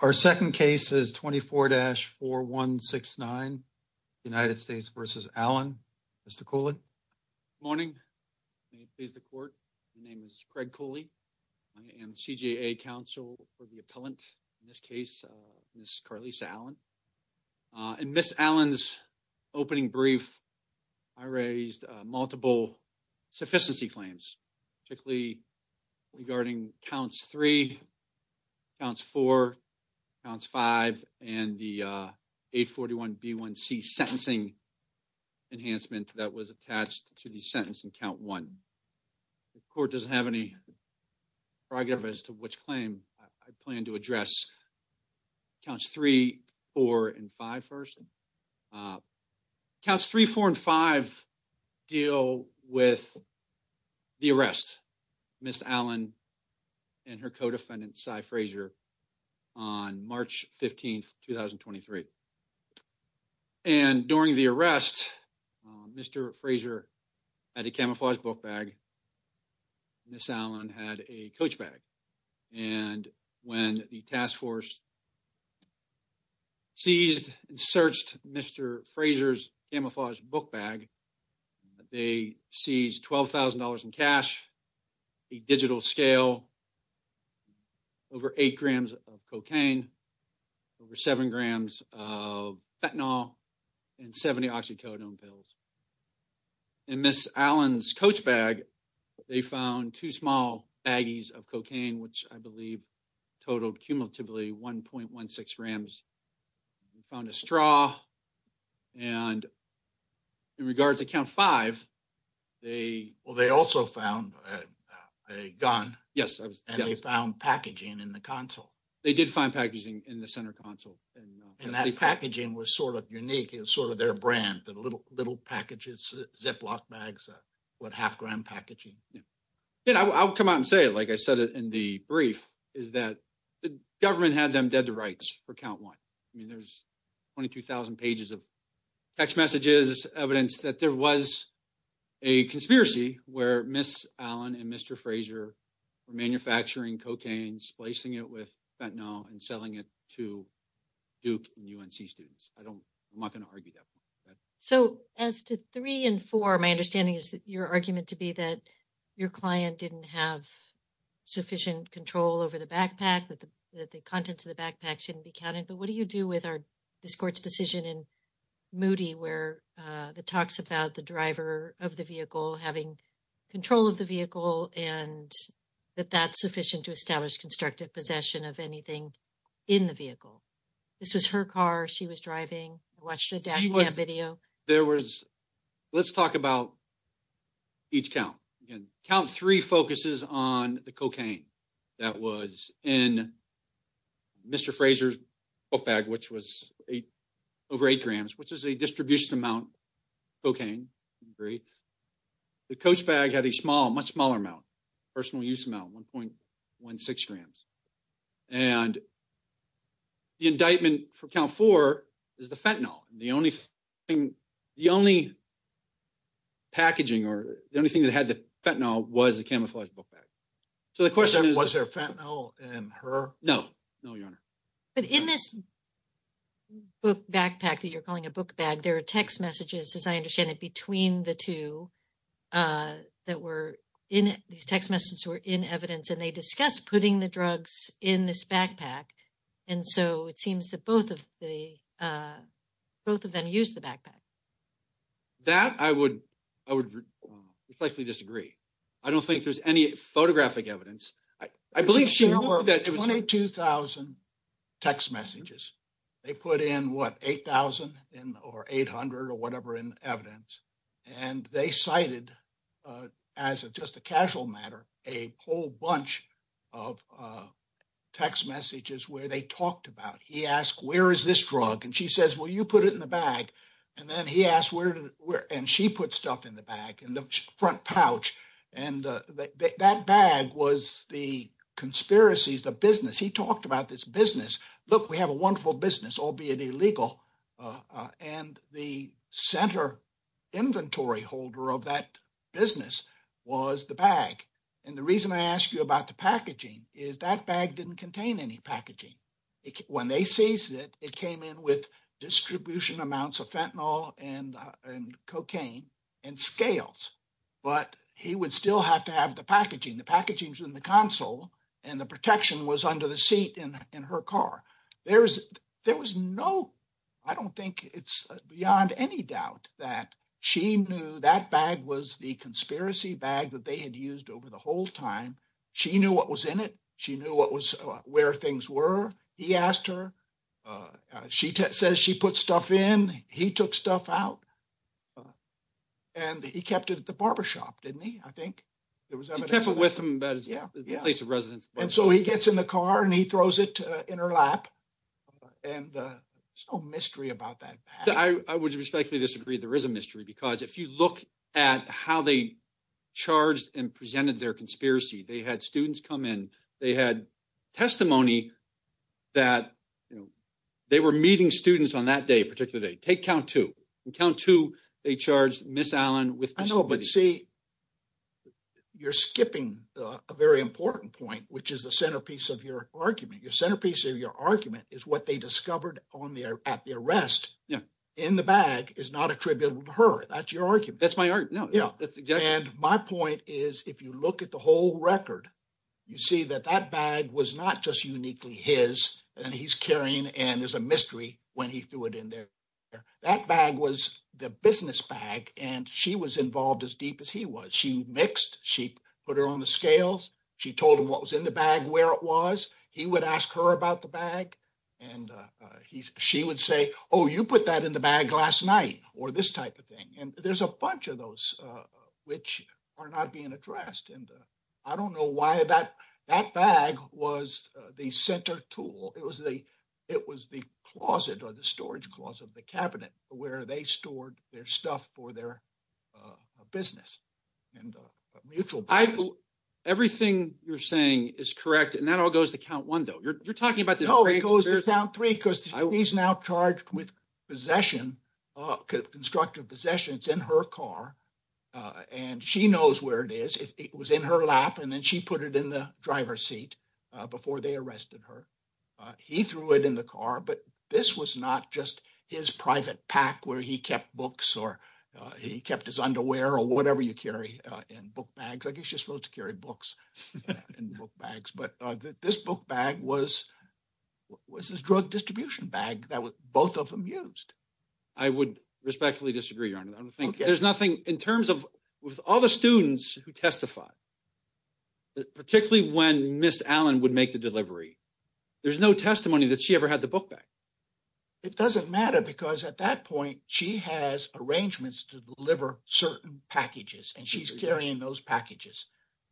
Our second case is 24-4169 United States v. Allen. Mr. Cooley. Good morning. May it please the court. My name is Craig Cooley. I am CJA counsel for the appellant in this case, Ms. Carlisa Allen. In Ms. Allen's opening brief, I raised multiple sufficiency claims, particularly regarding counts 3, counts 4, counts 5, and the 841B1C sentencing enhancement that was attached to the sentence in count 1. The court doesn't have any progress as to which claim I plan to address. Counts 3, 4, and 5 first. Counts 3, 4, and 5 deal with the arrest of Ms. Allen and her co-defendant, Cy Frazier, on March 15, 2023. During the arrest, Mr. Frazier had a camouflage book bag, and Ms. Allen had a coach bag. And when the task force seized and searched Mr. Frazier's camouflage book bag, they seized $12,000 in cash, a digital scale, over 8 grams of cocaine, over 7 grams of fentanyl, and 70 oxycodone pills. In Ms. Allen's coach bag, they found two small baggies of cocaine, which I believe totaled cumulatively 1.16 grams. They found a straw. And in regards to count 5, they... Well, they also found a gun. Yes. And they found packaging in the console. They did find packaging in the center console. And that packaging was sort of unique. It was sort of their brand, the little packages, Ziploc bags, what, half-gram packaging? Yeah. I'll come out and say it, like I said in the brief, is that the government had them dead to rights for count 1. I mean, there's 22,000 pages of text messages, evidence that there was a conspiracy where Ms. Allen and Frazier were manufacturing cocaine, splicing it with fentanyl, and selling it to Duke and UNC students. I'm not going to argue that. So as to 3 and 4, my understanding is that your argument to be that your client didn't have sufficient control over the backpack, that the contents of the backpack shouldn't be counted. But what do you do with our discourse decision in Moody, where it talks about the driver of the vehicle having control of the vehicle and that that's sufficient to establish constructive possession of anything in the vehicle? This was her car. She was driving. I watched the dash cam video. There was, let's talk about each count. Again, count 3 focuses on the cocaine that was in Mr. Frazier's book bag, which was over 8 grams, which is a distribution amount of cocaine. Great. The coach bag had a small, much smaller amount, personal use amount, 1.16 grams. And the indictment for count 4 is the fentanyl. The only thing, the only packaging or the only thing that had the fentanyl was the camouflaged book bag. So the question is, was there fentanyl in her? No, no, your honor. But in this book backpack that you're calling a book bag, there are text messages, as I understand it, between the two that were in, these text messages were in evidence and they discuss putting the drugs in this backpack. And so it seems that both of the, both of them use the backpack. That I would, I would respectfully disagree. I don't think there's any photographic evidence. I believe she wrote 22,000 text messages. They put in what, 8,000 or 800 or whatever in evidence. And they cited as a, just a casual matter, a whole bunch of text messages where they talked about, he asked, where is this drug? And she says, well, you put it in the bag. And then he asked, and she put stuff in the bag, in the front pouch. And that bag was the conspiracies, the business. He talked about this business. Look, we have a wonderful business, albeit illegal. And the center inventory holder of that business was the bag. And the reason I asked you about the packaging is that bag didn't contain any packaging. When they seized it, it came in with distribution amounts of fentanyl and cocaine and scales, but he would still have to have the packaging. The packaging's in the console and the protection was under the seat in her car. There's, there was no, I don't think it's beyond any doubt that she knew that bag was the conspiracy bag that they had used over the whole time. She knew what was in it. She knew what was, where things were. He asked her, she says she put stuff in, he took stuff out, and he kept it at the barbershop, didn't he? I think there was evidence of that. He kept it with him, but it was in the place of residence. And so he gets in the car and he throws it in her lap. And there's no mystery about that bag. I would respectfully disagree. There is a mystery because if you look at how they charged and presented their conspiracy, they had students come in, they had testimony that, you know, they were meeting students on that day, particular day. Take count two. In count two, they charged Ms. Allen with- I know, but see, you're skipping a very important point, which is the centerpiece of your argument. Your centerpiece of your argument is what they discovered on the, at the arrest in the bag is not attributable to her. That's your argument. That's my argument. No, that's exactly- And my point is, if you look at the whole record, you see that that bag was not just uniquely his and he's carrying and there's a mystery when he threw it in there. That bag was the business bag and she was involved as deep as he was. She mixed, she put her on the scales. She told him what was in the bag, where it was. He would ask her about the bag and she would say, oh, you put that in the bag last night or this type of thing. And there's a bunch of those which are not being addressed. And I don't know why that, that bag was the center tool. It was the, it was the closet or the storage closet of the cabinet where they stored their stuff for their business and mutual- Everything you're saying is correct. And that all goes to count one though. You're talking about- No, it goes to count three because he's now charged with possession, constructive possession. It's in her car and she knows where it is. It was in her lap and then she put it in the driver's seat before they arrested her. He threw it in the car, but this was not just his private pack where he kept books or he kept his underwear or whatever you carry in book bags. I guess you're supposed to carry books in book bags, but this book bag was his drug distribution bag that both of them used. I would respectfully disagree on it. I don't think there's nothing in terms of with all the students who testified, particularly when Ms. Allen would make the delivery, there's no testimony that she ever had the book bag. It doesn't matter because at that point, she has arrangements to deliver certain packages and she's carrying those packages.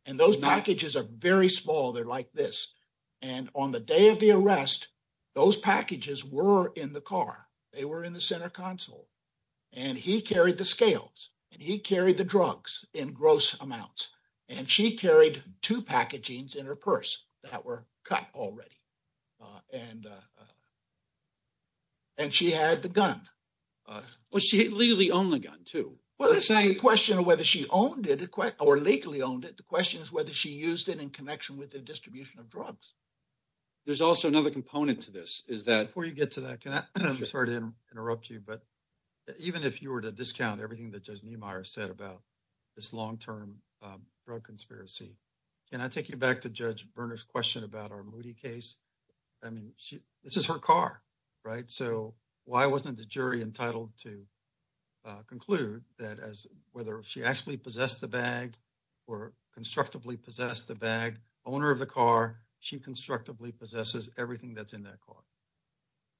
And those packages are very small. They're like this. And on the day of the arrest, those packages were in the car. They were in the center console. And he carried the scales and he carried the drugs in gross amounts. And she carried two packagings in her purse that were cut already. And and she had the gun. Well, she legally owned the gun too. Well, it's not a question of whether she owned it or legally owned it. The question is whether she used it in connection with the distribution of drugs. There's also another component to this is that- Before you get to that, can I, I'm sorry to interrupt you, but even if you were to discount everything that Judge Niemeyer said about this long-term drug conspiracy, can I take you back to Judge Niemeyer? This is her car, right? So why wasn't the jury entitled to conclude that as whether she actually possessed the bag or constructively possessed the bag, owner of the car, she constructively possesses everything that's in that car?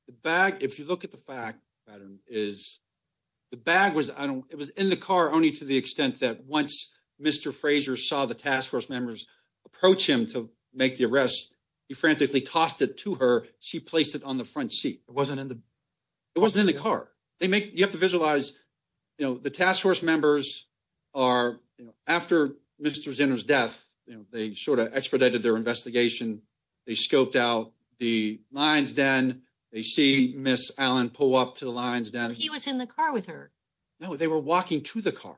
The bag, if you look at the fact, Adam, is the bag was in the car only to the extent that once Mr. Frazier saw the task force members approach him to make the arrest, he frantically tossed it to her. She placed it on the front seat. It wasn't in the- It wasn't in the car. They make, you have to visualize, you know, the task force members are, you know, after Mr. Zinner's death, you know, they sort of expedited their investigation. They scoped out the lion's den. They see Ms. Allen pull up to the lion's den. He was in the car with her. No, they were walking to the car.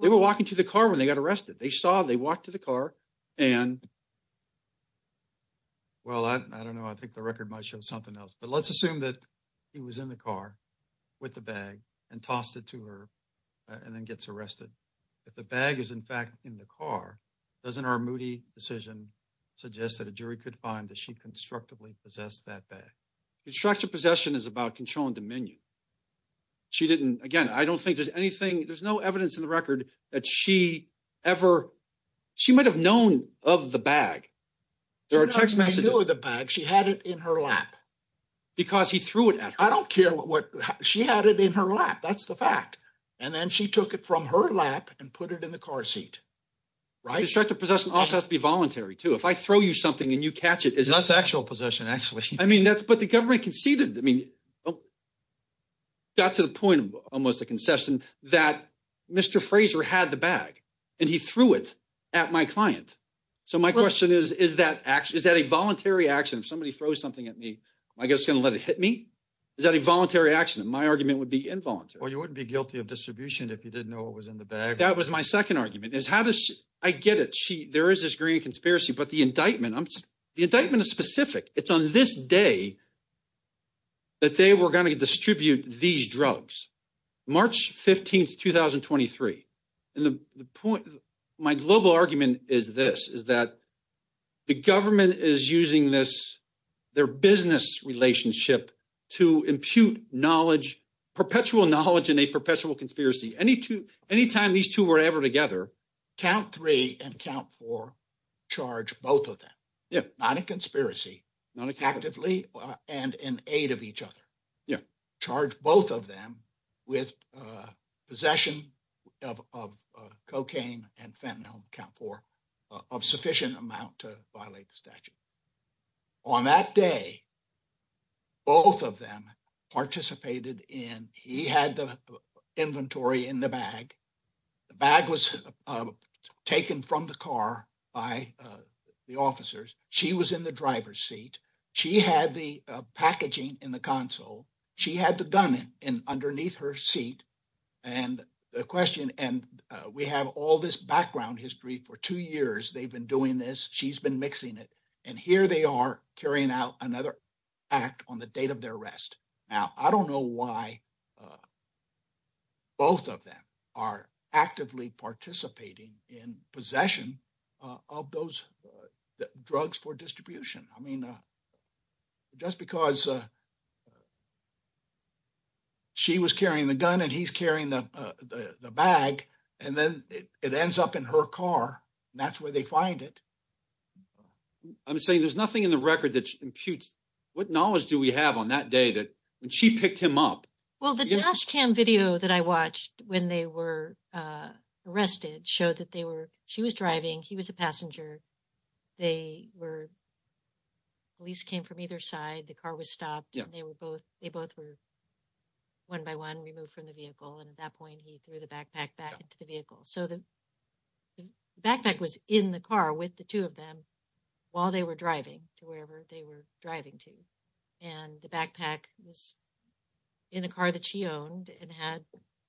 They were walking to the car when they got arrested. They saw, they walked to the car and- Well, I don't know. I think the record might show something else, but let's assume that he was in the car with the bag and tossed it to her and then gets arrested. If the bag is, in fact, in the car, doesn't our moody decision suggest that a jury could find that she constructively possessed that bag? Construction possession is about control and dominion. She didn't, again, I don't think there's anything, there's no evidence in the record that she ever, she might've known of the bag. There are text messages- She did not know of the bag. She had it in her lap. Because he threw it at her. I don't care what, she had it in her lap. That's the fact. And then she took it from her lap and put it in the car seat. Right? Constructive possession also has to be voluntary too. If I throw you something and you catch it- That's actual possession, actually. I mean, that's, but the government conceded, I mean, it got to the point of almost a concession that Mr. Fraser had the bag and he threw it at my client. So my question is, is that a voluntary action? If somebody throws something at me, am I just going to let it hit me? Is that a voluntary action? My argument would be involuntary. Well, you wouldn't be guilty of distribution if you didn't know what was in the bag. That was my second argument is how does, I get it, there is this green conspiracy, but the indictment is specific. It's on this day that they were going to distribute these drugs, March 15th, 2023. And the point, my global argument is this, is that the government is using their business relationship to impute knowledge, perpetual knowledge in a perpetual conspiracy. Anytime these two were ever together, count three and count four charge both of them, not a conspiracy, not actively and in aid of each other. Charge both of them with possession of cocaine and fentanyl, count four, of sufficient amount to violate the statute. On that day, both of them participated in, he had the inventory in the bag. The bag was taken from the car by the officers. She was in the driver's seat. She had the packaging in the console. She had the gun in underneath her seat. And the question, and we have all this background history for two years, they've been doing this. She's been mixing it. And here they are carrying out another act on the date of their arrest. Now, I don't know why both of them are actively participating in possession of those drugs for distribution. I mean, just because she was carrying the gun and he's carrying the bag, and then it ends up in her car, and that's where they find it. I'm saying there's nothing in the record that imputes, what knowledge do we have on that day that when she picked him up? Well, the dash cam video that I watched when they were arrested showed that they were, she was driving, he was a passenger. They were, police came from either side. The car was stopped. They were both, they both were one by one removed from the vehicle. And at that point, he threw the backpack back into the vehicle. So the backpack was in the car with the two of them while they were driving to wherever they were driving to. And the backpack was in a car that she owned and had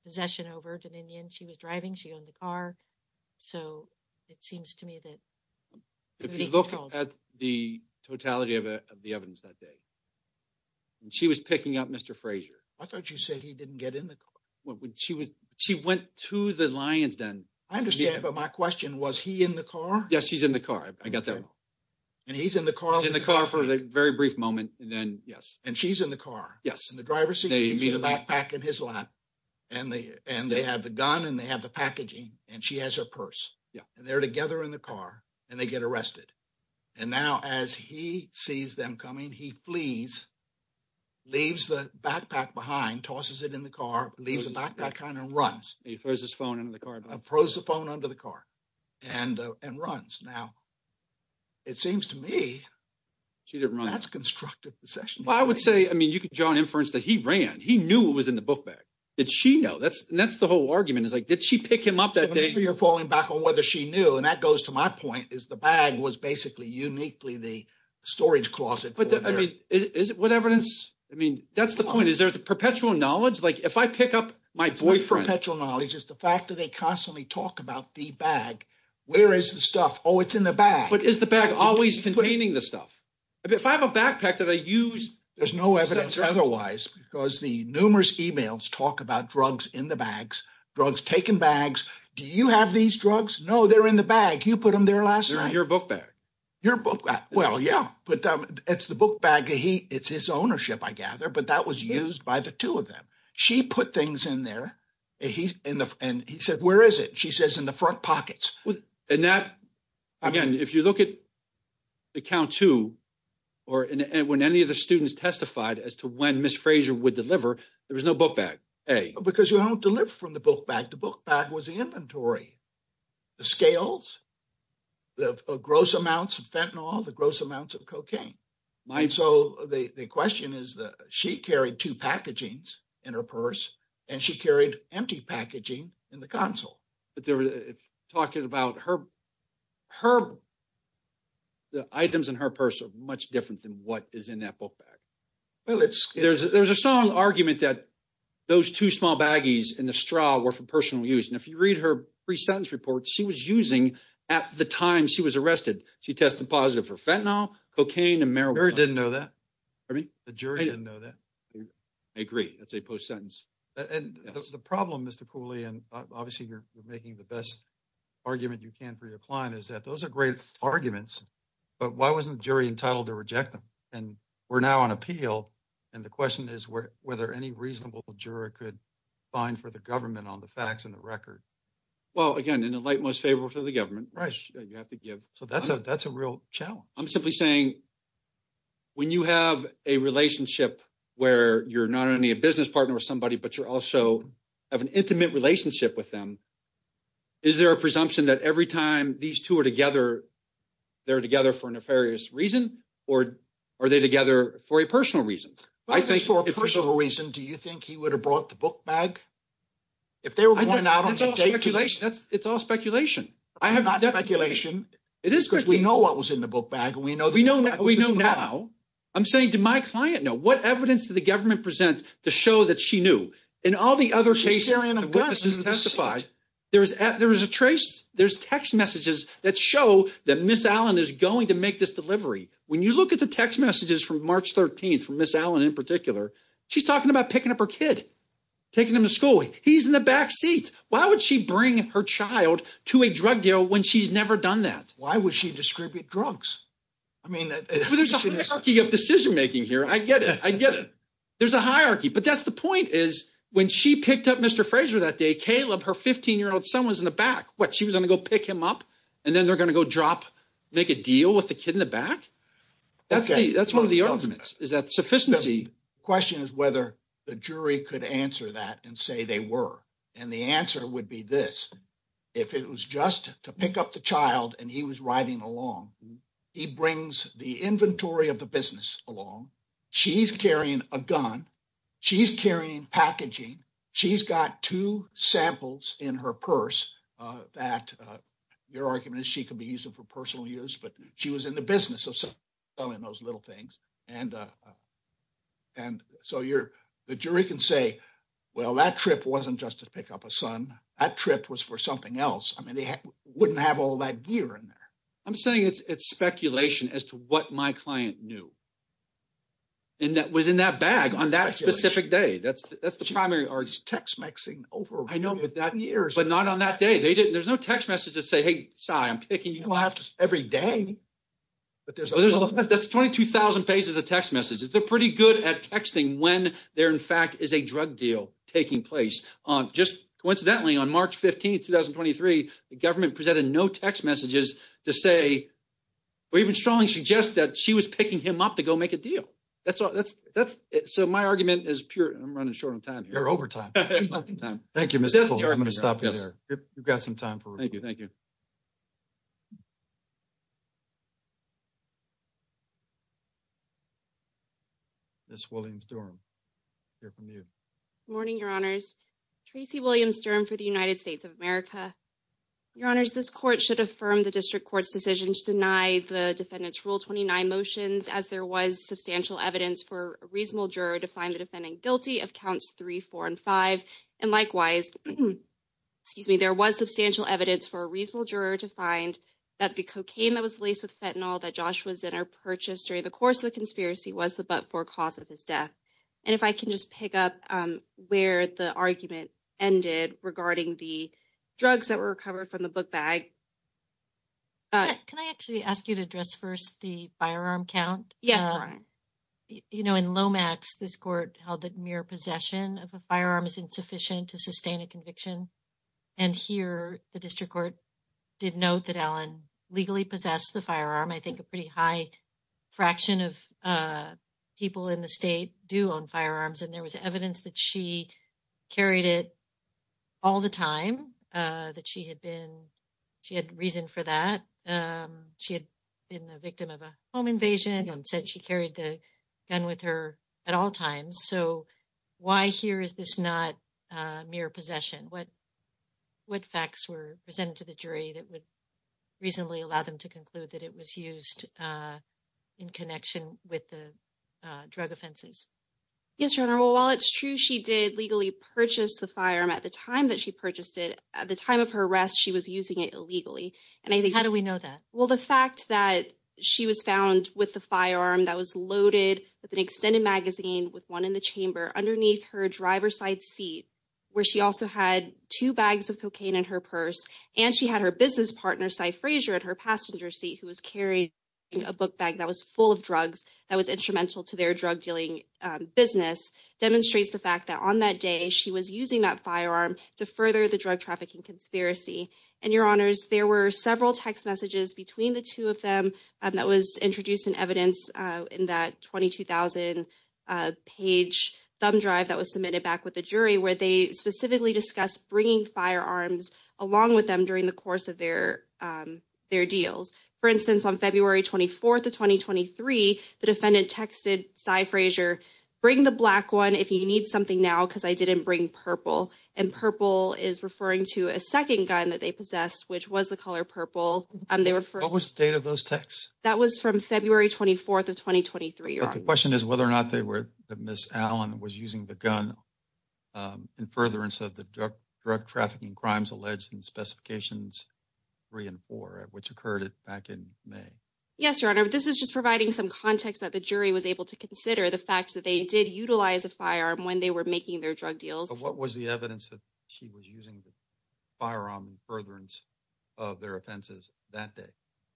possession over Dominion. She was driving, she owned the car. So it seems to me that. If you look at the totality of the evidence that day, and she was picking up Mr. Frazier. I thought you said he didn't get in the car. Well, she was, she went to the lion's den. I understand, but my question, was he in the car? Yes, he's in the car. I got that. And he's in the car. He's in the car for a very brief moment. And then, yes. And she's in the car. Yes. The driver sees the backpack in his lap, and they have the gun, and they have the packaging, and she has her purse. And they're together in the car, and they get arrested. And now, as he sees them coming, he flees, leaves the backpack behind, tosses it in the car, leaves the backpack on and runs. He throws his phone into the car. Throws the phone under the car and runs. Now, it seems to me. She didn't run. That's constructive possession. I would say, I mean, you could draw an inference that he ran. He knew it was in the book bag. Did she know? That's the whole argument. It's like, did she pick him up that day? You're falling back on whether she knew. And that goes to my point, is the bag was basically uniquely the storage closet. But I mean, is it what evidence? I mean, that's the point. Is there perpetual knowledge? Like, if I pick up my boyfriend. Perpetual knowledge is the fact that they constantly talk about the bag. Where is the stuff? Oh, it's in the bag. But is the bag always containing the stuff? If I have a backpack that I use. There's no evidence otherwise, because the numerous emails talk about drugs in the bags, drugs taken bags. Do you have these drugs? No, they're in the bag. You put them there last night. They're in your book bag. Your book bag. Well, yeah, but it's the book bag. It's his ownership, I gather. But that was used by the two of them. She put things in there. And he said, where is it? She says in the front pockets. And that, again, if you look at account two, or when any of the students testified as to when Ms. Fraser would deliver, there was no book bag, A. Because you don't deliver from the book bag. The book bag was the inventory. The scales, the gross amounts of fentanyl, the gross amounts of cocaine. So the question is, she carried two packagings in her purse, and she carried empty packaging in the console. But talking about her, the items in her purse are much different than what is in that book bag. Well, there's a strong argument that those two small baggies in the straw were for personal use. And if you read her pre-sentence report, she was using at the time she was arrested. She tested positive for fentanyl, cocaine, and marijuana. The jury didn't know that. I agree. That's a post-sentence. And the problem, Mr. Cooley, and obviously you're making the best argument you can for your client, is that those are great arguments. But why wasn't the jury entitled to reject them? And we're now on appeal. And the question is whether any reasonable juror could find for the government on the facts and the record. Well, again, in the light most favorable to the government, you have to give. So that's a real challenge. I'm simply saying, when you have a relationship where you're not only a jury, but you're also have an intimate relationship with them, is there a presumption that every time these two are together, they're together for a nefarious reason? Or are they together for a personal reason? I think for a personal reason, do you think he would have brought the book bag? If they were going out on a date. It's all speculation. I have not done speculation. It is because we know what was in the book bag. And we know that we know now. I'm saying to my client now, what evidence did the government present to show that she knew? In all the other cases, the witnesses testified, there is a trace. There's text messages that show that Ms. Allen is going to make this delivery. When you look at the text messages from March 13th for Ms. Allen in particular, she's talking about picking up her kid, taking him to school. He's in the back seat. Why would she bring her child to a drug deal when she's never done that? Why would she distribute drugs? I mean, there's a hierarchy of decision making here. I get it. I get it. There's a hierarchy. But that's the point is when she picked up Mr. Frazier that day, Caleb, her 15-year-old son was in the back. What, she was going to go pick him up and then they're going to go drop, make a deal with the kid in the back? That's one of the arguments. Is that sufficiency? The question is whether the jury could answer that and say they were. And the answer would be this. If it was just to pick up the child and he was riding along, he brings the inventory of the business along. She's carrying a gun. She's carrying packaging. She's got two samples in her purse that your argument is she could be using for personal use. But she was in the business of selling those little things. And so the jury can say, well, that trip wasn't just to pick up a son. That trip was for something else. I mean, they wouldn't have all that gear in there. I'm saying it's speculation as to what my client knew. And that was in that bag on that specific day. That's the primary argument. It's text mixing over years. But not on that day. There's no text message to say, hey, Si, I'm picking you up. You don't have to every day. That's 22,000 pages of text messages. They're pretty good at texting when there, in fact, is a drug deal taking place. Just coincidentally, on March 15, 2023, the government presented no text messages to say, or even strongly suggest that she was picking him up to go make a deal. That's it. So my argument is pure. I'm running short on time here. You're over time. Thank you, Mr. Cole. I'm going to stop you there. You've got some time for. Thank you. Thank you. Miss Williams-Durham, hear from you. Morning, your honors. Tracy Williams-Durham for the United States of America. Your honors, this court should affirm the district court's decision to deny the defendant's Rule 29 motions as there was substantial evidence for a reasonable juror to find the defendant guilty of counts three, four, and five. And likewise, excuse me, there was substantial evidence for a reasonable juror to find that the cocaine that was laced with fentanyl that Joshua Zinner purchased during the course of the conspiracy was the but-for cause of his death. And if I can just pick up where the argument ended regarding the drugs that were recovered from the book bag. All right. Can I actually ask you to address first the firearm count? Yeah. You know, in Lomax, this court held that mere possession of a firearm is insufficient to sustain a conviction. And here the district court did note that Alan legally possessed the firearm. I think a pretty high fraction of people in the state do own firearms. And there was evidence that she carried it all the time, that she had been reasoned for that. She had been the victim of a home invasion and said she carried the gun with her at all times. So why here is this not mere possession? What facts were presented to the jury that would reasonably allow them to conclude that it was used in connection with the drug offenses? Yes, Your Honor. Well, while it's true she did legally purchase the firearm at the time that she purchased it, at the time of her arrest, she was using it illegally. And I think... How do we know that? Well, the fact that she was found with the firearm that was loaded with an extended magazine with one in the chamber underneath her driver's side seat, where she also had two bags of cocaine in her purse, and she had her business partner, Cy Frazier, at her passenger seat, who was carrying a book bag that was full of drugs that was instrumental to their drug dealing business, demonstrates the fact that on that day she was using that firearm to further the drug trafficking conspiracy. And, Your Honors, there were several text messages between the two of them that was introduced in evidence in that 22,000-page thumb drive that was submitted back with the jury where they specifically discussed bringing firearms along with them during the course of their deals. For instance, on February 24th of 2023, the defendant texted Cy Frazier, bring the black one if you need something now, because I didn't bring purple. And purple is referring to a second gun that they possessed, which was the color purple. And they were... What was the date of those texts? That was from February 24th of 2023, Your Honor. But the question is whether or not they were, that Ms. Allen was using the gun in furtherance of the drug trafficking crimes alleged in Specifications 3 and 4, which occurred back in May. Yes, Your Honor. This is just providing some context that the jury was able to consider the fact that they did utilize a firearm when they were making their drug deals. What was the evidence that she was using the firearm in furtherance of their offenses that day?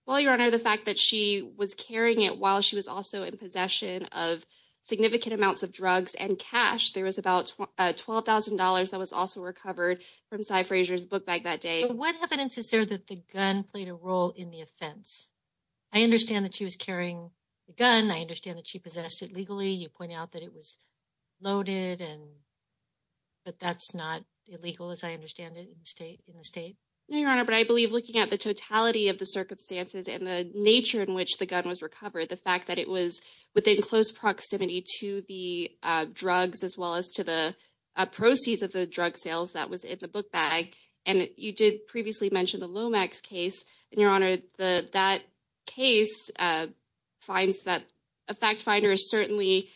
Well, Your Honor, the fact that she was carrying it while she was also in possession of significant amounts of drugs and cash. There was about $12,000 that was also recovered from Cy Frazier's book bag that day. What evidence is there that the gun played a role in the offense? I understand that she was carrying the gun. I understand that she possessed it legally. You pointed out that it was loaded, but that's not illegal as I understand it in the state. No, Your Honor, but I believe looking at the totality of the circumstances and the nature in which the gun was recovered, the fact that it was within close proximity to the drugs as well as to the proceeds of the drug sales that was in the book bag. And you did previously mention the Lomax case. And Your Honor, that case finds that a fact finder is certainly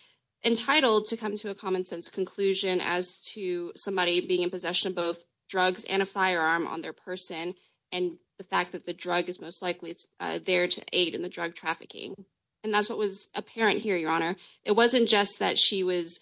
entitled to come to a common sense conclusion as to somebody being in possession of both drugs and a firearm on their person and the fact that the drug is most likely there to aid in the drug trafficking. And that's what was apparent here, Your Honor. It wasn't just that she was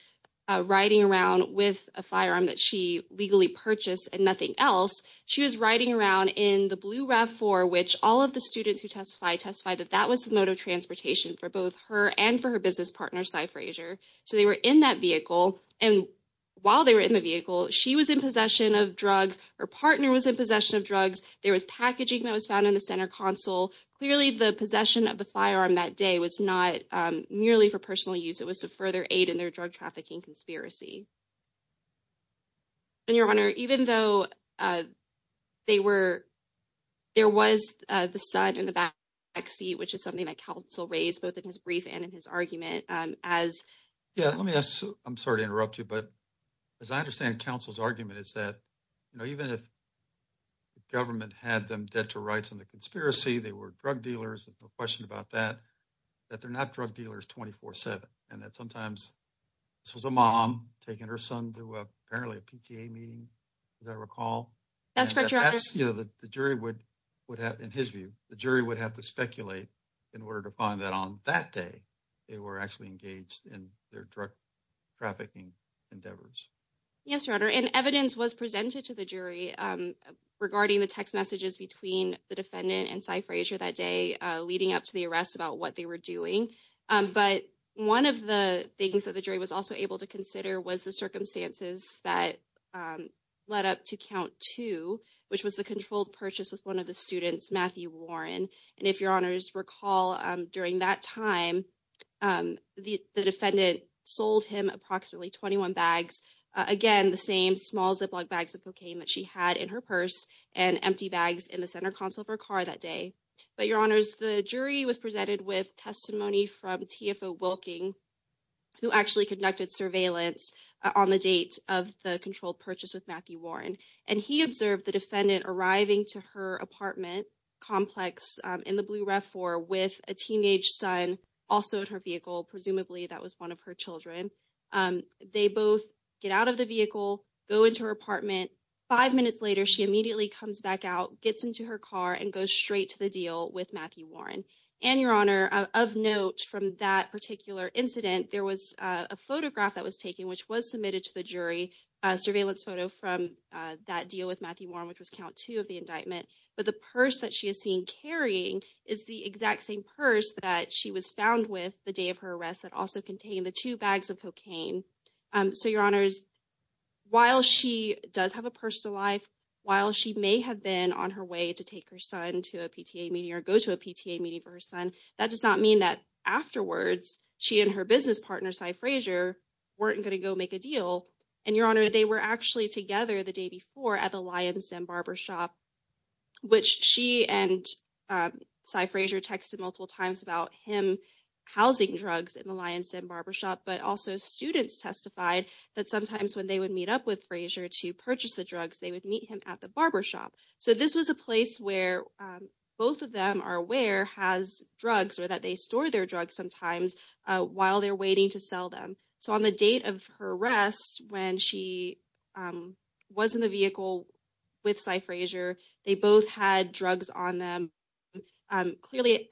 riding around with a firearm that she legally purchased and nothing else. She was riding around in the blue RAV4, which all of the students who testified that that was the mode of transportation for both her and for her business partner, Cy Frazier. So they were in that vehicle. And while they were in the vehicle, she was in possession of drugs. Her partner was in possession of drugs. There was packaging that was found in the center console. Clearly, the possession of the firearm that day was not merely for personal use. It was to further aid in their drug trafficking conspiracy. And Your Honor, even though there was the son in the back seat, which is something that counsel raised both in his brief and in his argument as. Yeah, let me ask. I'm sorry to interrupt you. But as I understand, counsel's argument is that, you know, even if the government had them debt to rights on the conspiracy, they were drug dealers. There's no question about that, that they're not drug dealers 24 7. And that sometimes this was a mom taking her son through apparently a PTA meeting. Does that recall? That's correct, Your Honor. You know, the jury would have in his view, the jury would have to speculate in order to find that on that day, they were actually engaged in their drug trafficking endeavors. Yes, Your Honor. And evidence was presented to the jury regarding the text messages between the defendant and Cy Frazier that day leading up to the arrest about what they were doing. But one of the things that the jury was also able to consider was the circumstances that led up to count two, which was the controlled purchase with one of the students, Matthew Warren. And if Your Honor's recall during that time, the defendant sold him approximately 21 bags. Again, the same small Ziploc bags of cocaine that she had in her purse and empty bags in the center console of her car that day. But Your Honor's, the jury was presented with testimony from TFO Wilking, who actually conducted surveillance on the date of the controlled purchase with Matthew Warren. And he observed the defendant arriving to her apartment complex in the blue ref for with a teenage son also in her vehicle. Presumably that was one of her children. They both get out of the vehicle, go into her apartment. Five minutes later, she immediately comes back out, gets into her car and goes straight to the deal with Matthew Warren. And Your Honor, of note from that particular incident, there was a photograph that was taken, which was submitted to the jury surveillance photo from that deal with Matthew Warren, which was count two of the indictment. But the purse that she is seen carrying is the exact same purse that she was found with the day of her arrest that also contained the two bags of cocaine. So Your Honor's, while she does have a personal life, while she may have been on her way to take her son to a PTA meeting or go to a PTA meeting for her son, that does not mean that afterwards she and her business partner, Cy Frazier, weren't going to go make a deal. And Your Honor, they were actually together the day before at the Lion's Den barbershop, which she and Cy Frazier texted multiple times about him housing drugs in the Lion's Den barbershop. But also students testified that sometimes when they would meet up with Frazier to purchase the drugs, they would meet him at the barbershop. So this was a place where both of them are aware has drugs or that they store their drugs sometimes while they're waiting to sell them. So on the date of her arrest, when she was in the vehicle with Cy Frazier, they both had drugs on them. Clearly,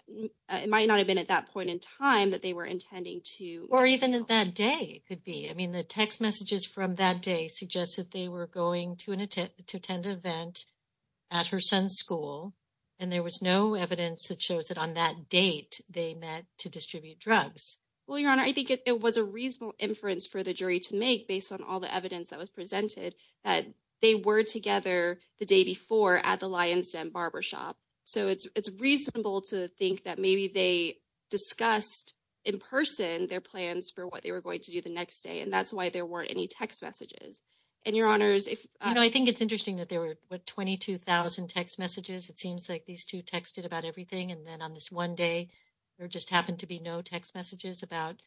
it might not have been at that point in time that they were intending to. Or even that day could be. The text messages from that day suggested they were going to attend an event at her son's school, and there was no evidence that shows that on that date they met to distribute drugs. Well, Your Honor, I think it was a reasonable inference for the jury to make based on all the evidence that was presented that they were together the day before at the Lion's Den barbershop. So it's reasonable to think that maybe they discussed in person their plans for what they were going to do the next day. And that's why there weren't any text messages. And Your Honor, I think it's interesting that there were 22,000 text messages. It seems like these two texted about everything. And then on this one day, there just happened to be no text messages about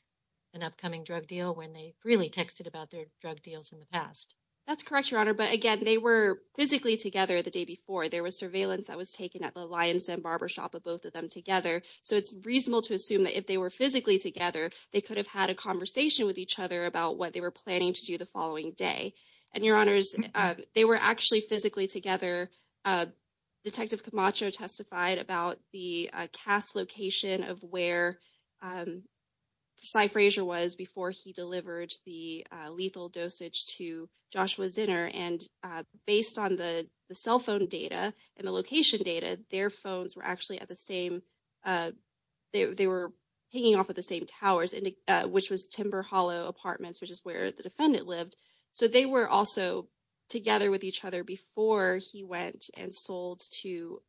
an upcoming drug deal when they really texted about their drug deals in the past. That's correct, Your Honor. But again, they were physically together the day before. There was surveillance that was taken at the Lion's Den barbershop of both of them together. So it's reasonable to assume that if they were physically together, they could have had a conversation with each other about what they were planning to do the following day. And Your Honors, they were actually physically together. Detective Camacho testified about the cast location of where Cy Frazier was before he delivered the lethal dosage to Joshua Zinner. And based on the cell phone data and the location data, their phones were actually at the same uh, they were hanging off of the same towers, which was Timber Hollow Apartments, which is where the defendant lived. So they were also together with each other before he went and sold to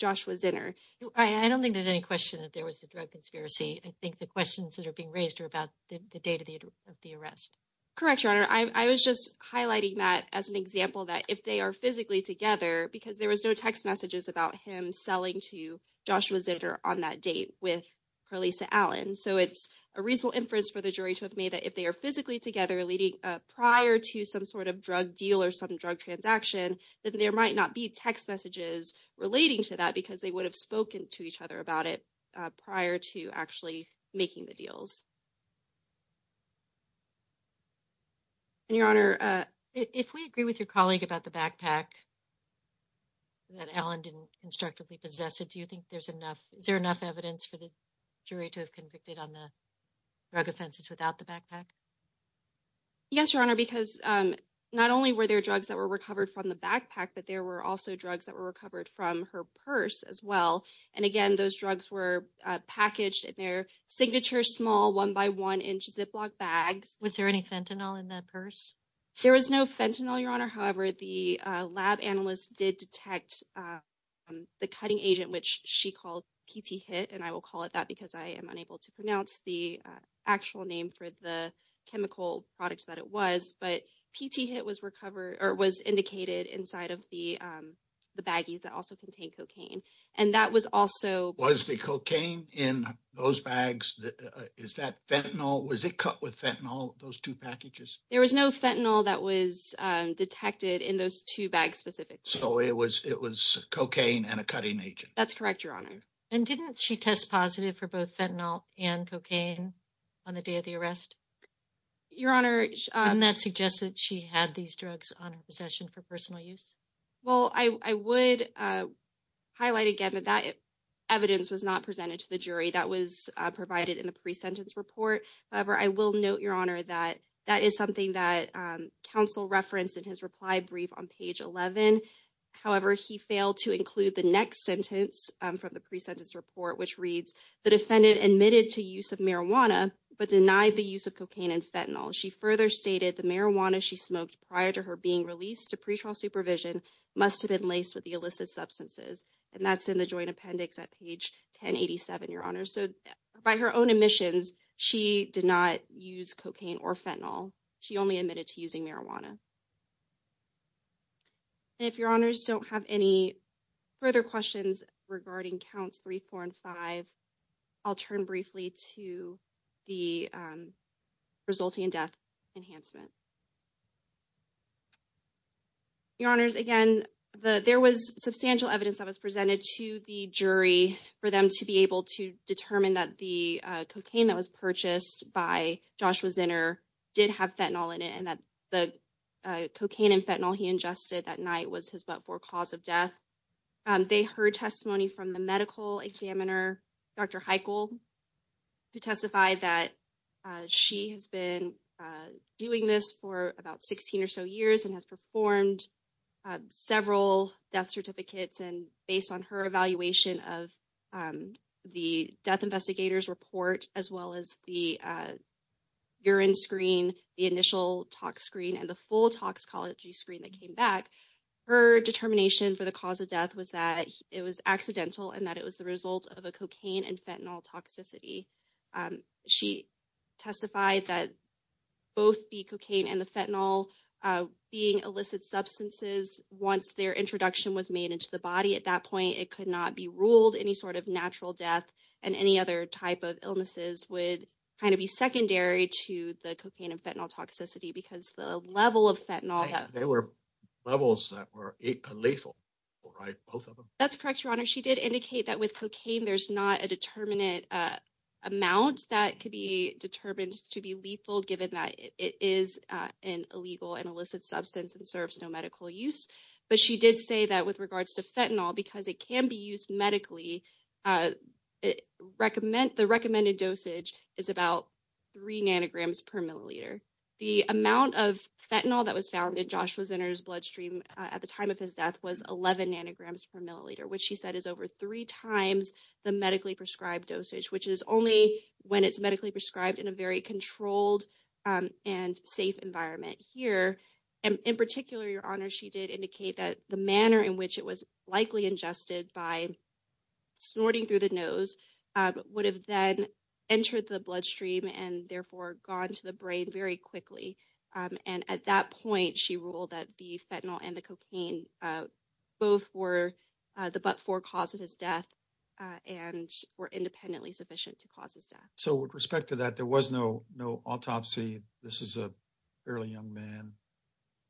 Joshua Zinner. I don't think there's any question that there was a drug conspiracy. I think the questions that are being raised are about the date of the arrest. Correct, Your Honor. I was just highlighting that as an example that if they are physically together, because there was no text messages about him selling to Joshua Zinner on that date with Carlisa Allen. So it's a reasonable inference for the jury to have made that if they are physically together leading prior to some sort of drug deal or some drug transaction, that there might not be text messages relating to that because they would have spoken to each other about it prior to actually making the deals. And, Your Honor, if we agree with your colleague about the backpack that Allen didn't constructively possess it, do you think there's enough, is there enough evidence for the jury to have convicted on the drug offenses without the backpack? Yes, Your Honor, because not only were there drugs that were recovered from the backpack, but there were also drugs that were recovered from her purse as well. And again, those drugs were packaged in their signature small white, black, and yellow one-by-one-inch Ziploc bags. Was there any fentanyl in that purse? There was no fentanyl, Your Honor. However, the lab analysts did detect the cutting agent, which she called PT-HIT, and I will call it that because I am unable to pronounce the actual name for the chemical products that it was. But PT-HIT was recovered or was indicated inside of the baggies that also contained cocaine. And that was also... Was the cocaine in those bags? Is that fentanyl? Was it cut with fentanyl, those two packages? There was no fentanyl that was detected in those two bags specifically. So it was cocaine and a cutting agent? That's correct, Your Honor. And didn't she test positive for both fentanyl and cocaine on the day of the arrest? Your Honor... And that suggests that she had these drugs on her possession for personal use? Well, I would highlight again that that evidence was not presented to the jury. That was provided in the pre-sentence report. However, I will note, Your Honor, that that is something that counsel referenced in his reply brief on page 11. However, he failed to include the next sentence from the pre-sentence report, which reads, the defendant admitted to use of marijuana but denied the use of cocaine and fentanyl. She further stated the marijuana she smoked prior to her being released to pre-trial supervision must have been laced with the illicit substances. And that's in the joint appendix at page 1087, Your Honor. So by her own admissions, she did not use cocaine or fentanyl. She only admitted to using marijuana. And if Your Honors don't have any further questions regarding counts three, four, and five, I'll turn briefly to the resulting death enhancement. Your Honors, again, there was substantial evidence that was presented to the jury for them to be able to determine that the cocaine that was purchased by Joshua Zinner did have fentanyl in it, and that the cocaine and fentanyl he ingested that night was his but-for cause of death. They heard testimony from the medical examiner, Dr. Heichel, who testified that she has been doing this for about 16 or so years and has performed several death certificates. And based on her evaluation of the death investigator's report, as well as the urine screen, the initial tox screen, and the full toxicology screen that came back, her determination for the cause of death was that it was accidental and that it was the result of a cocaine and fentanyl toxicity. She testified that both the cocaine and the fentanyl being illicit substances, once their introduction was made into the body at that point, it could not be ruled any sort of natural death and any other type of illnesses would kind of be secondary to the cocaine and fentanyl toxicity because the level of fentanyl that- They were levels that were lethal, right, both of them? That's correct, Your Honor. She did indicate that with cocaine, there's not a determinate amount that could be determined to be lethal, given that it is an illegal and illicit substance and serves no medical use. But she did say that with regards to fentanyl, because it can be used medically, the recommended dosage is about 3 nanograms per milliliter. The amount of fentanyl that was found in Joshua Zinner's bloodstream at the time of his death was 11 nanograms per milliliter, which she said is over three times the medically prescribed dosage, which is only when it's medically prescribed in a very controlled and safe environment. Here, in particular, Your Honor, she did indicate that the manner in which it was likely ingested by snorting through the nose would have then entered the bloodstream and therefore gone to the brain very quickly. And at that point, she ruled that the fentanyl and the cocaine both were the but-for cause of his death and were independently sufficient to cause his death. So with respect to that, there was no autopsy. This is a fairly young man,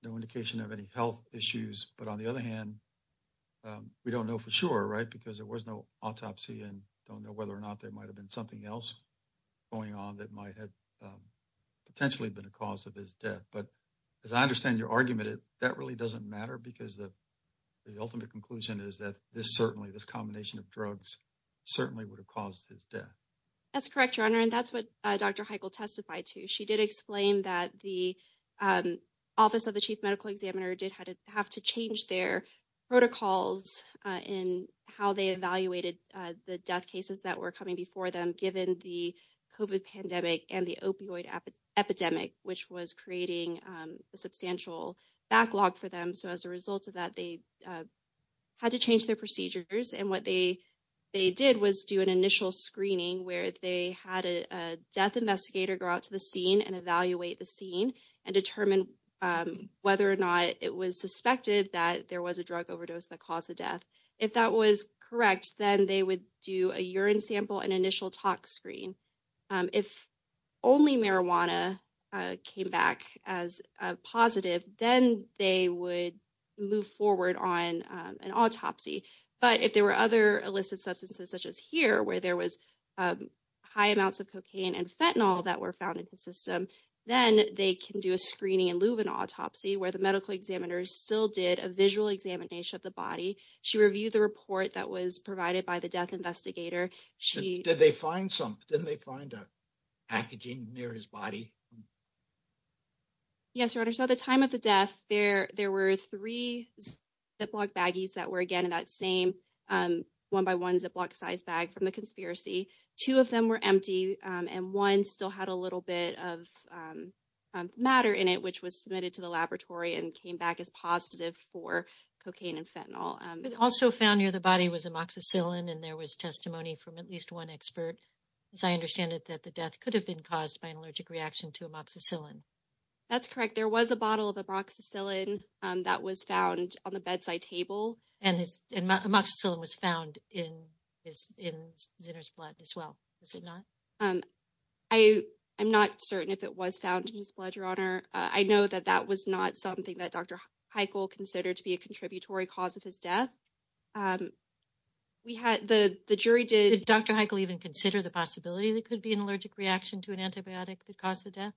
no indication of any health issues. But on the other hand, we don't know for sure, right, because there was no autopsy and don't know whether or not there might have been something else going on that might have potentially been a cause of his death. But as I understand your argument, that really doesn't matter because the ultimate conclusion is that this certainly, this combination of drugs, certainly would have caused his death. That's correct, Your Honor, and that's what Dr. Heichel testified to. She did explain that the Office of the Chief Medical Examiner did have to change their protocols in how they evaluated the death cases that were coming before them, given the COVID pandemic and the opioid epidemic, which was creating a substantial backlog for them. So as a result of that, they had to change their procedures. And what they did was do an initial screening where they had a death investigator go out to the scene and evaluate the scene and determine whether or not it was suspected that there was a drug overdose that caused the death. If that was correct, then they would do a urine sample and initial tox screen. If only marijuana came back as a positive, then they would move forward on an autopsy. But if there were other illicit substances, such as here, where there was high amounts of cocaine and fentanyl that were found in the system, then they can do a screening and leave an autopsy where the medical examiner still did a visual examination of the body. She reviewed the report that was provided by the death investigator. Did they find some? Didn't they find a packaging near his body? Yes, Your Honor. So at the time of the death, there were three Ziploc baggies that were, again, in that same one-by-one Ziploc-sized bag from the conspiracy. Two of them were empty, and one still had a little bit of matter in it, which was submitted to the laboratory and came back as positive for cocaine and fentanyl. It also found near the body was amoxicillin, and there was testimony from at least one expert, as I understand it, that the death could have been caused by an allergic reaction to amoxicillin. That's correct. There was a bottle of amoxicillin that was found on the bedside table. And amoxicillin was found in Zinner's blood as well, was it not? I'm not certain if it was found in his blood, Your Honor. I know that that was not something that Dr. Heichel considered to be a contributory cause of his death. The jury did— Did Dr. Heichel even consider the possibility that it could be an allergic reaction to an antibiotic that caused the death?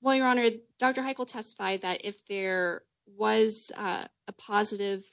Well, Your Honor, Dr. Heichel testified that if there was a positive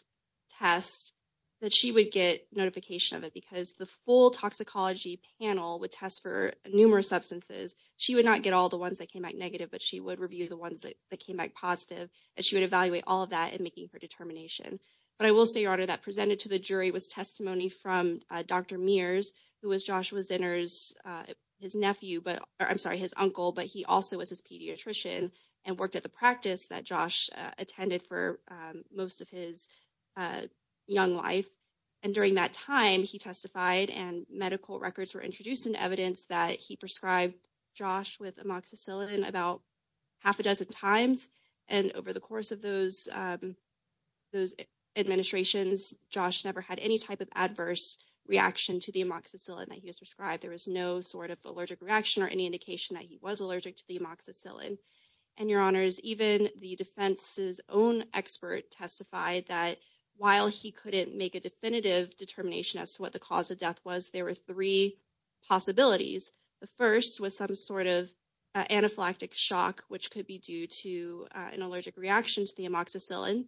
test, that she would get notification of it because the full toxicology panel would test for numerous substances. She would not get all the ones that came out negative, but she would review the ones that came out positive, and she would evaluate all of that in making her determination. But I will say, Your Honor, that presented to the jury was testimony from Dr. Mears, who was Joshua Zinner's—his nephew, but—I'm sorry, his uncle, but he also was his pediatrician and worked at the practice that Josh attended for most of his young life. And during that time, he testified and medical records were introduced and evidence that he prescribed Josh with amoxicillin about half a dozen times, and over the course of those—those administrations, Josh never had any type of adverse reaction to the amoxicillin that he was prescribed. There was no sort of allergic reaction or any indication that he was allergic to the amoxicillin. And, Your Honors, even the defense's own expert testified that while he couldn't make a definitive determination as to what the cause of death was, there were three possibilities. The first was some sort of anaphylactic shock, which could be due to an allergic reaction to the amoxicillin.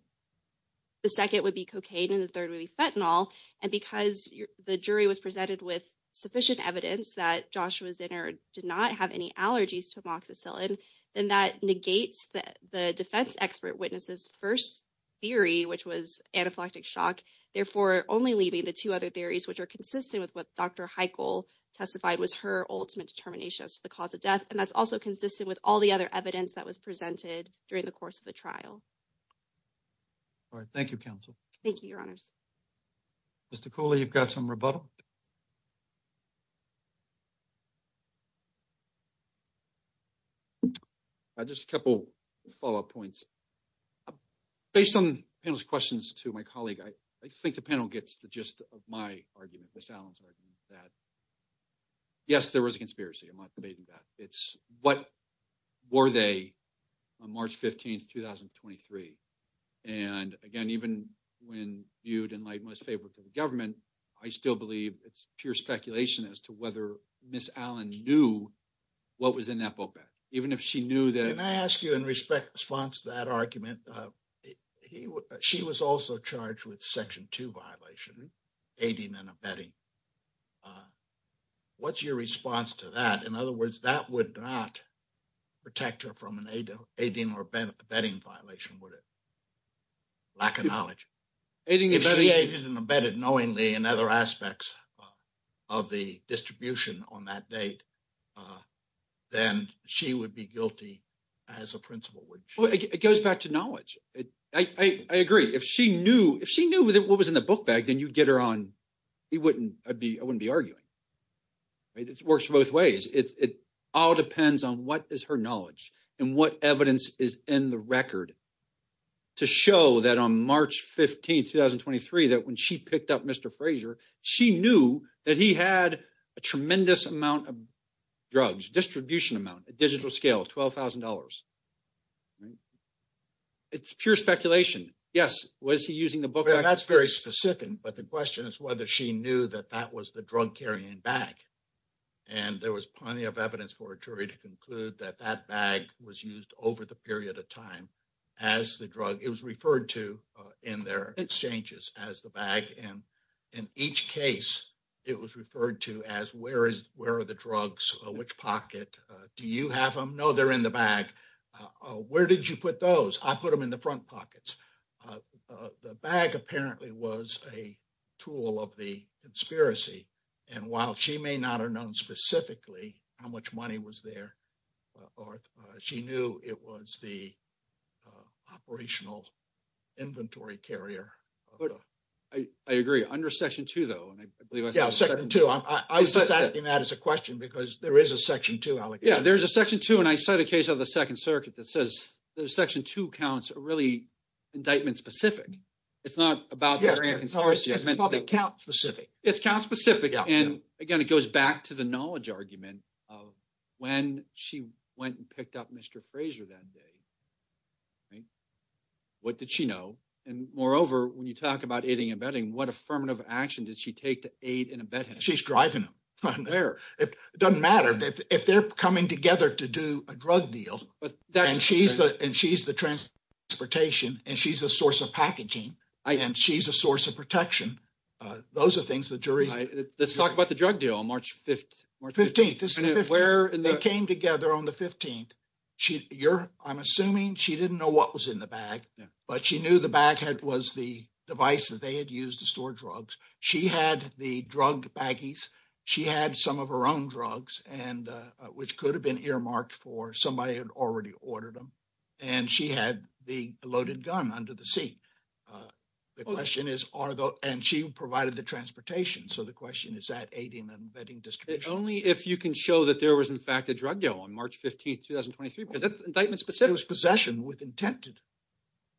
The second would be cocaine, and the third would be fentanyl. And because the jury was presented with sufficient evidence that Joshua Zinner did not have any allergies to amoxicillin, then that negates the defense expert witness's first theory, which was anaphylactic shock. Therefore, only leaving the two other theories, which are consistent with what Dr. Heichel testified was her ultimate determination as to the cause of death. And that's also consistent with all the other evidence that was presented during the course of the trial. All right. Thank you, counsel. Thank you, Your Honors. Mr. Cooley, you've got some rebuttal. Just a couple follow-up points. Based on the panel's questions to my colleague, I think the panel gets the gist of my argument, Ms. Allen's argument, that yes, there was a conspiracy. I'm not debating that. It's what were they on March 15, 2023? And again, even when viewed in light most favorable to the government, I still believe it's pure speculation as to whether Ms. Allen knew what was in that boat bag. Even if she knew that. Can I ask you in response to that argument, she was also charged with Section 2 violation, aiding and abetting. What's your response to that? In other words, that would not protect her from an aiding or abetting violation, would it? Lack of knowledge. Aiding and abetting. If she aided and abetted knowingly in other aspects of the distribution on that date, then she would be guilty as a principal, wouldn't she? It goes back to knowledge. I agree. If she knew what was in the book bag, then you'd get her on. I wouldn't be arguing. It works both ways. It all depends on what is her knowledge and what evidence is in the record to show that on March 15, 2023, that when she picked up Mr. Fraser, she knew that he had a tremendous amount of drugs, distribution amount, a digital scale, $12,000. It's pure speculation. Yes. Was he using the book bag? That's very specific. But the question is whether she knew that that was the drug carrying bag. And there was plenty of evidence for a jury to conclude that that bag was used over the period of time as the drug. It was referred to in their exchanges as the bag. In each case, it was referred to as where are the drugs? Which pocket? Do you have them? No, they're in the bag. Where did you put those? I put them in the front pockets. The bag apparently was a tool of the conspiracy. And while she may not have known specifically how much money was there, she knew it was the operational inventory carrier. But I agree. Under section two, though, and I believe I second to that as a question, because there is a section two. Yeah, there's a section two. And I cite a case of the Second Circuit that says the section two counts are really indictment specific. It's not about the account specific. It's count specific. And again, it goes back to the knowledge argument of when she went and picked up Mr. Fraser that day. What did she know? And moreover, when you talk about aiding and abetting, what affirmative action did she take to aid and abet him? She's driving him from there. It doesn't matter if they're coming together to do a drug deal. And she's the transportation and she's a source of packaging and she's a source of protection. Those are things the jury. Let's talk about the drug deal on March 15th. They came together on the 15th. You're, I'm assuming she didn't know what was in the bag, but she knew the bag was the device that they had used to store drugs. She had the drug baggies. She had some of her own drugs and which could have been earmarked for somebody who had already ordered them. And she had the loaded gun under the seat. The question is, and she provided the transportation. So the question is that aiding and abetting distribution? Only if you can show that there was in fact, a drug deal on March 15th, 2023, but that's indictment specific. It was possession with intent.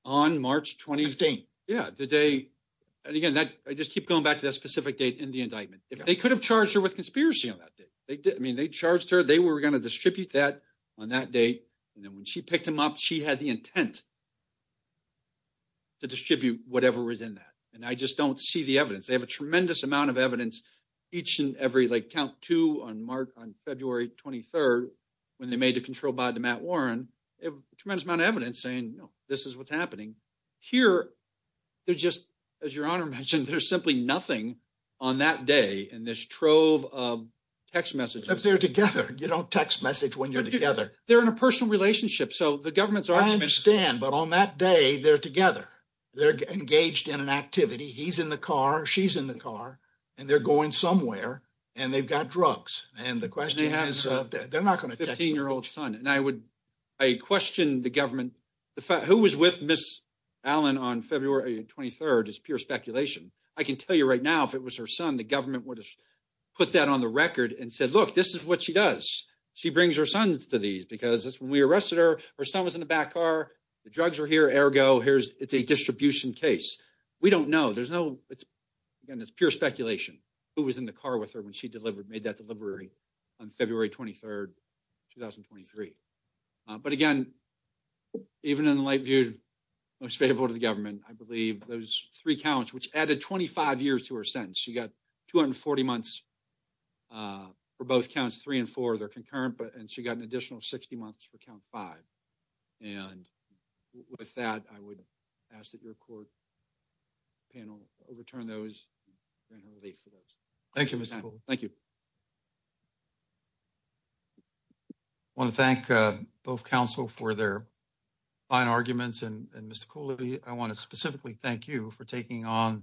On March 20th. Yeah, the day. And again, that I just keep going back to that specific date in the indictment. If they could have charged her with conspiracy on that day, they did. I mean, they charged her. They were going to distribute that on that date. And then when she picked him up, she had the intent to distribute whatever was in that. And I just don't see the evidence. They have a tremendous amount of evidence. Each and every, like, count to on March on February 23rd, when they made the control by the Matt Warren, a tremendous amount of evidence saying, you know, this is what's happening here. They're just, as your honor mentioned, there's simply nothing on that day. And this trove of text messages, if they're together, you don't text message when you're together, they're in a personal relationship. So the government's I understand. But on that day, they're together. They're engaged in an activity. He's in the car. She's in the car. And they're going somewhere. And they've got drugs. And the question is, they're not going to 15 year old son. And I would I question the government. The fact who was with Miss Allen on February 23rd is pure speculation. I can tell you right now, if it was her son, the government would have put that on the record and said, look, this is what she does. She brings her sons to these because we arrested her. Her son was in the back car. The drugs are here. Ergo, here's it's a distribution case. We don't know. There's no it's again, it's pure speculation who was in the car with her when she delivered made that delivery on February 23rd, 2023. But again, even in the light viewed most favorable to the government, I believe those three counts, which added 25 years to her sentence, she got 240 months for both counts, three and four, they're concurrent. And she got an additional 60 months for count five. And with that, I would ask that your court panel overturn those. Thank you, Mr. Thank you. I want to thank both counsel for their fine arguments. And Mr. Cooley, I want to specifically thank you for taking on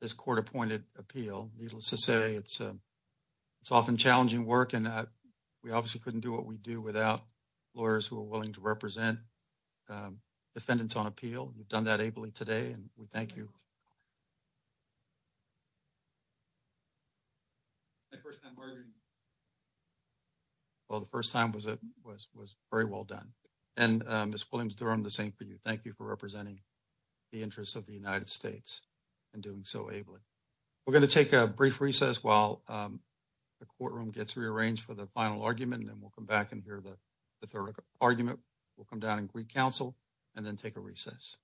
this court appointed appeal. Needless to say, it's it's often challenging work. We obviously couldn't do what we do without lawyers who are willing to represent defendants on appeal. We've done that ably today. And we thank you. Well, the first time was it was was very well done. And Ms. Williams, they're on the same for you. Thank you for representing the interests of the United States and doing so ably. We're going to take a brief recess while the courtroom gets rearranged for the final argument, and then we'll come back and hear the third argument. We'll come down and recounsel and then take a recess.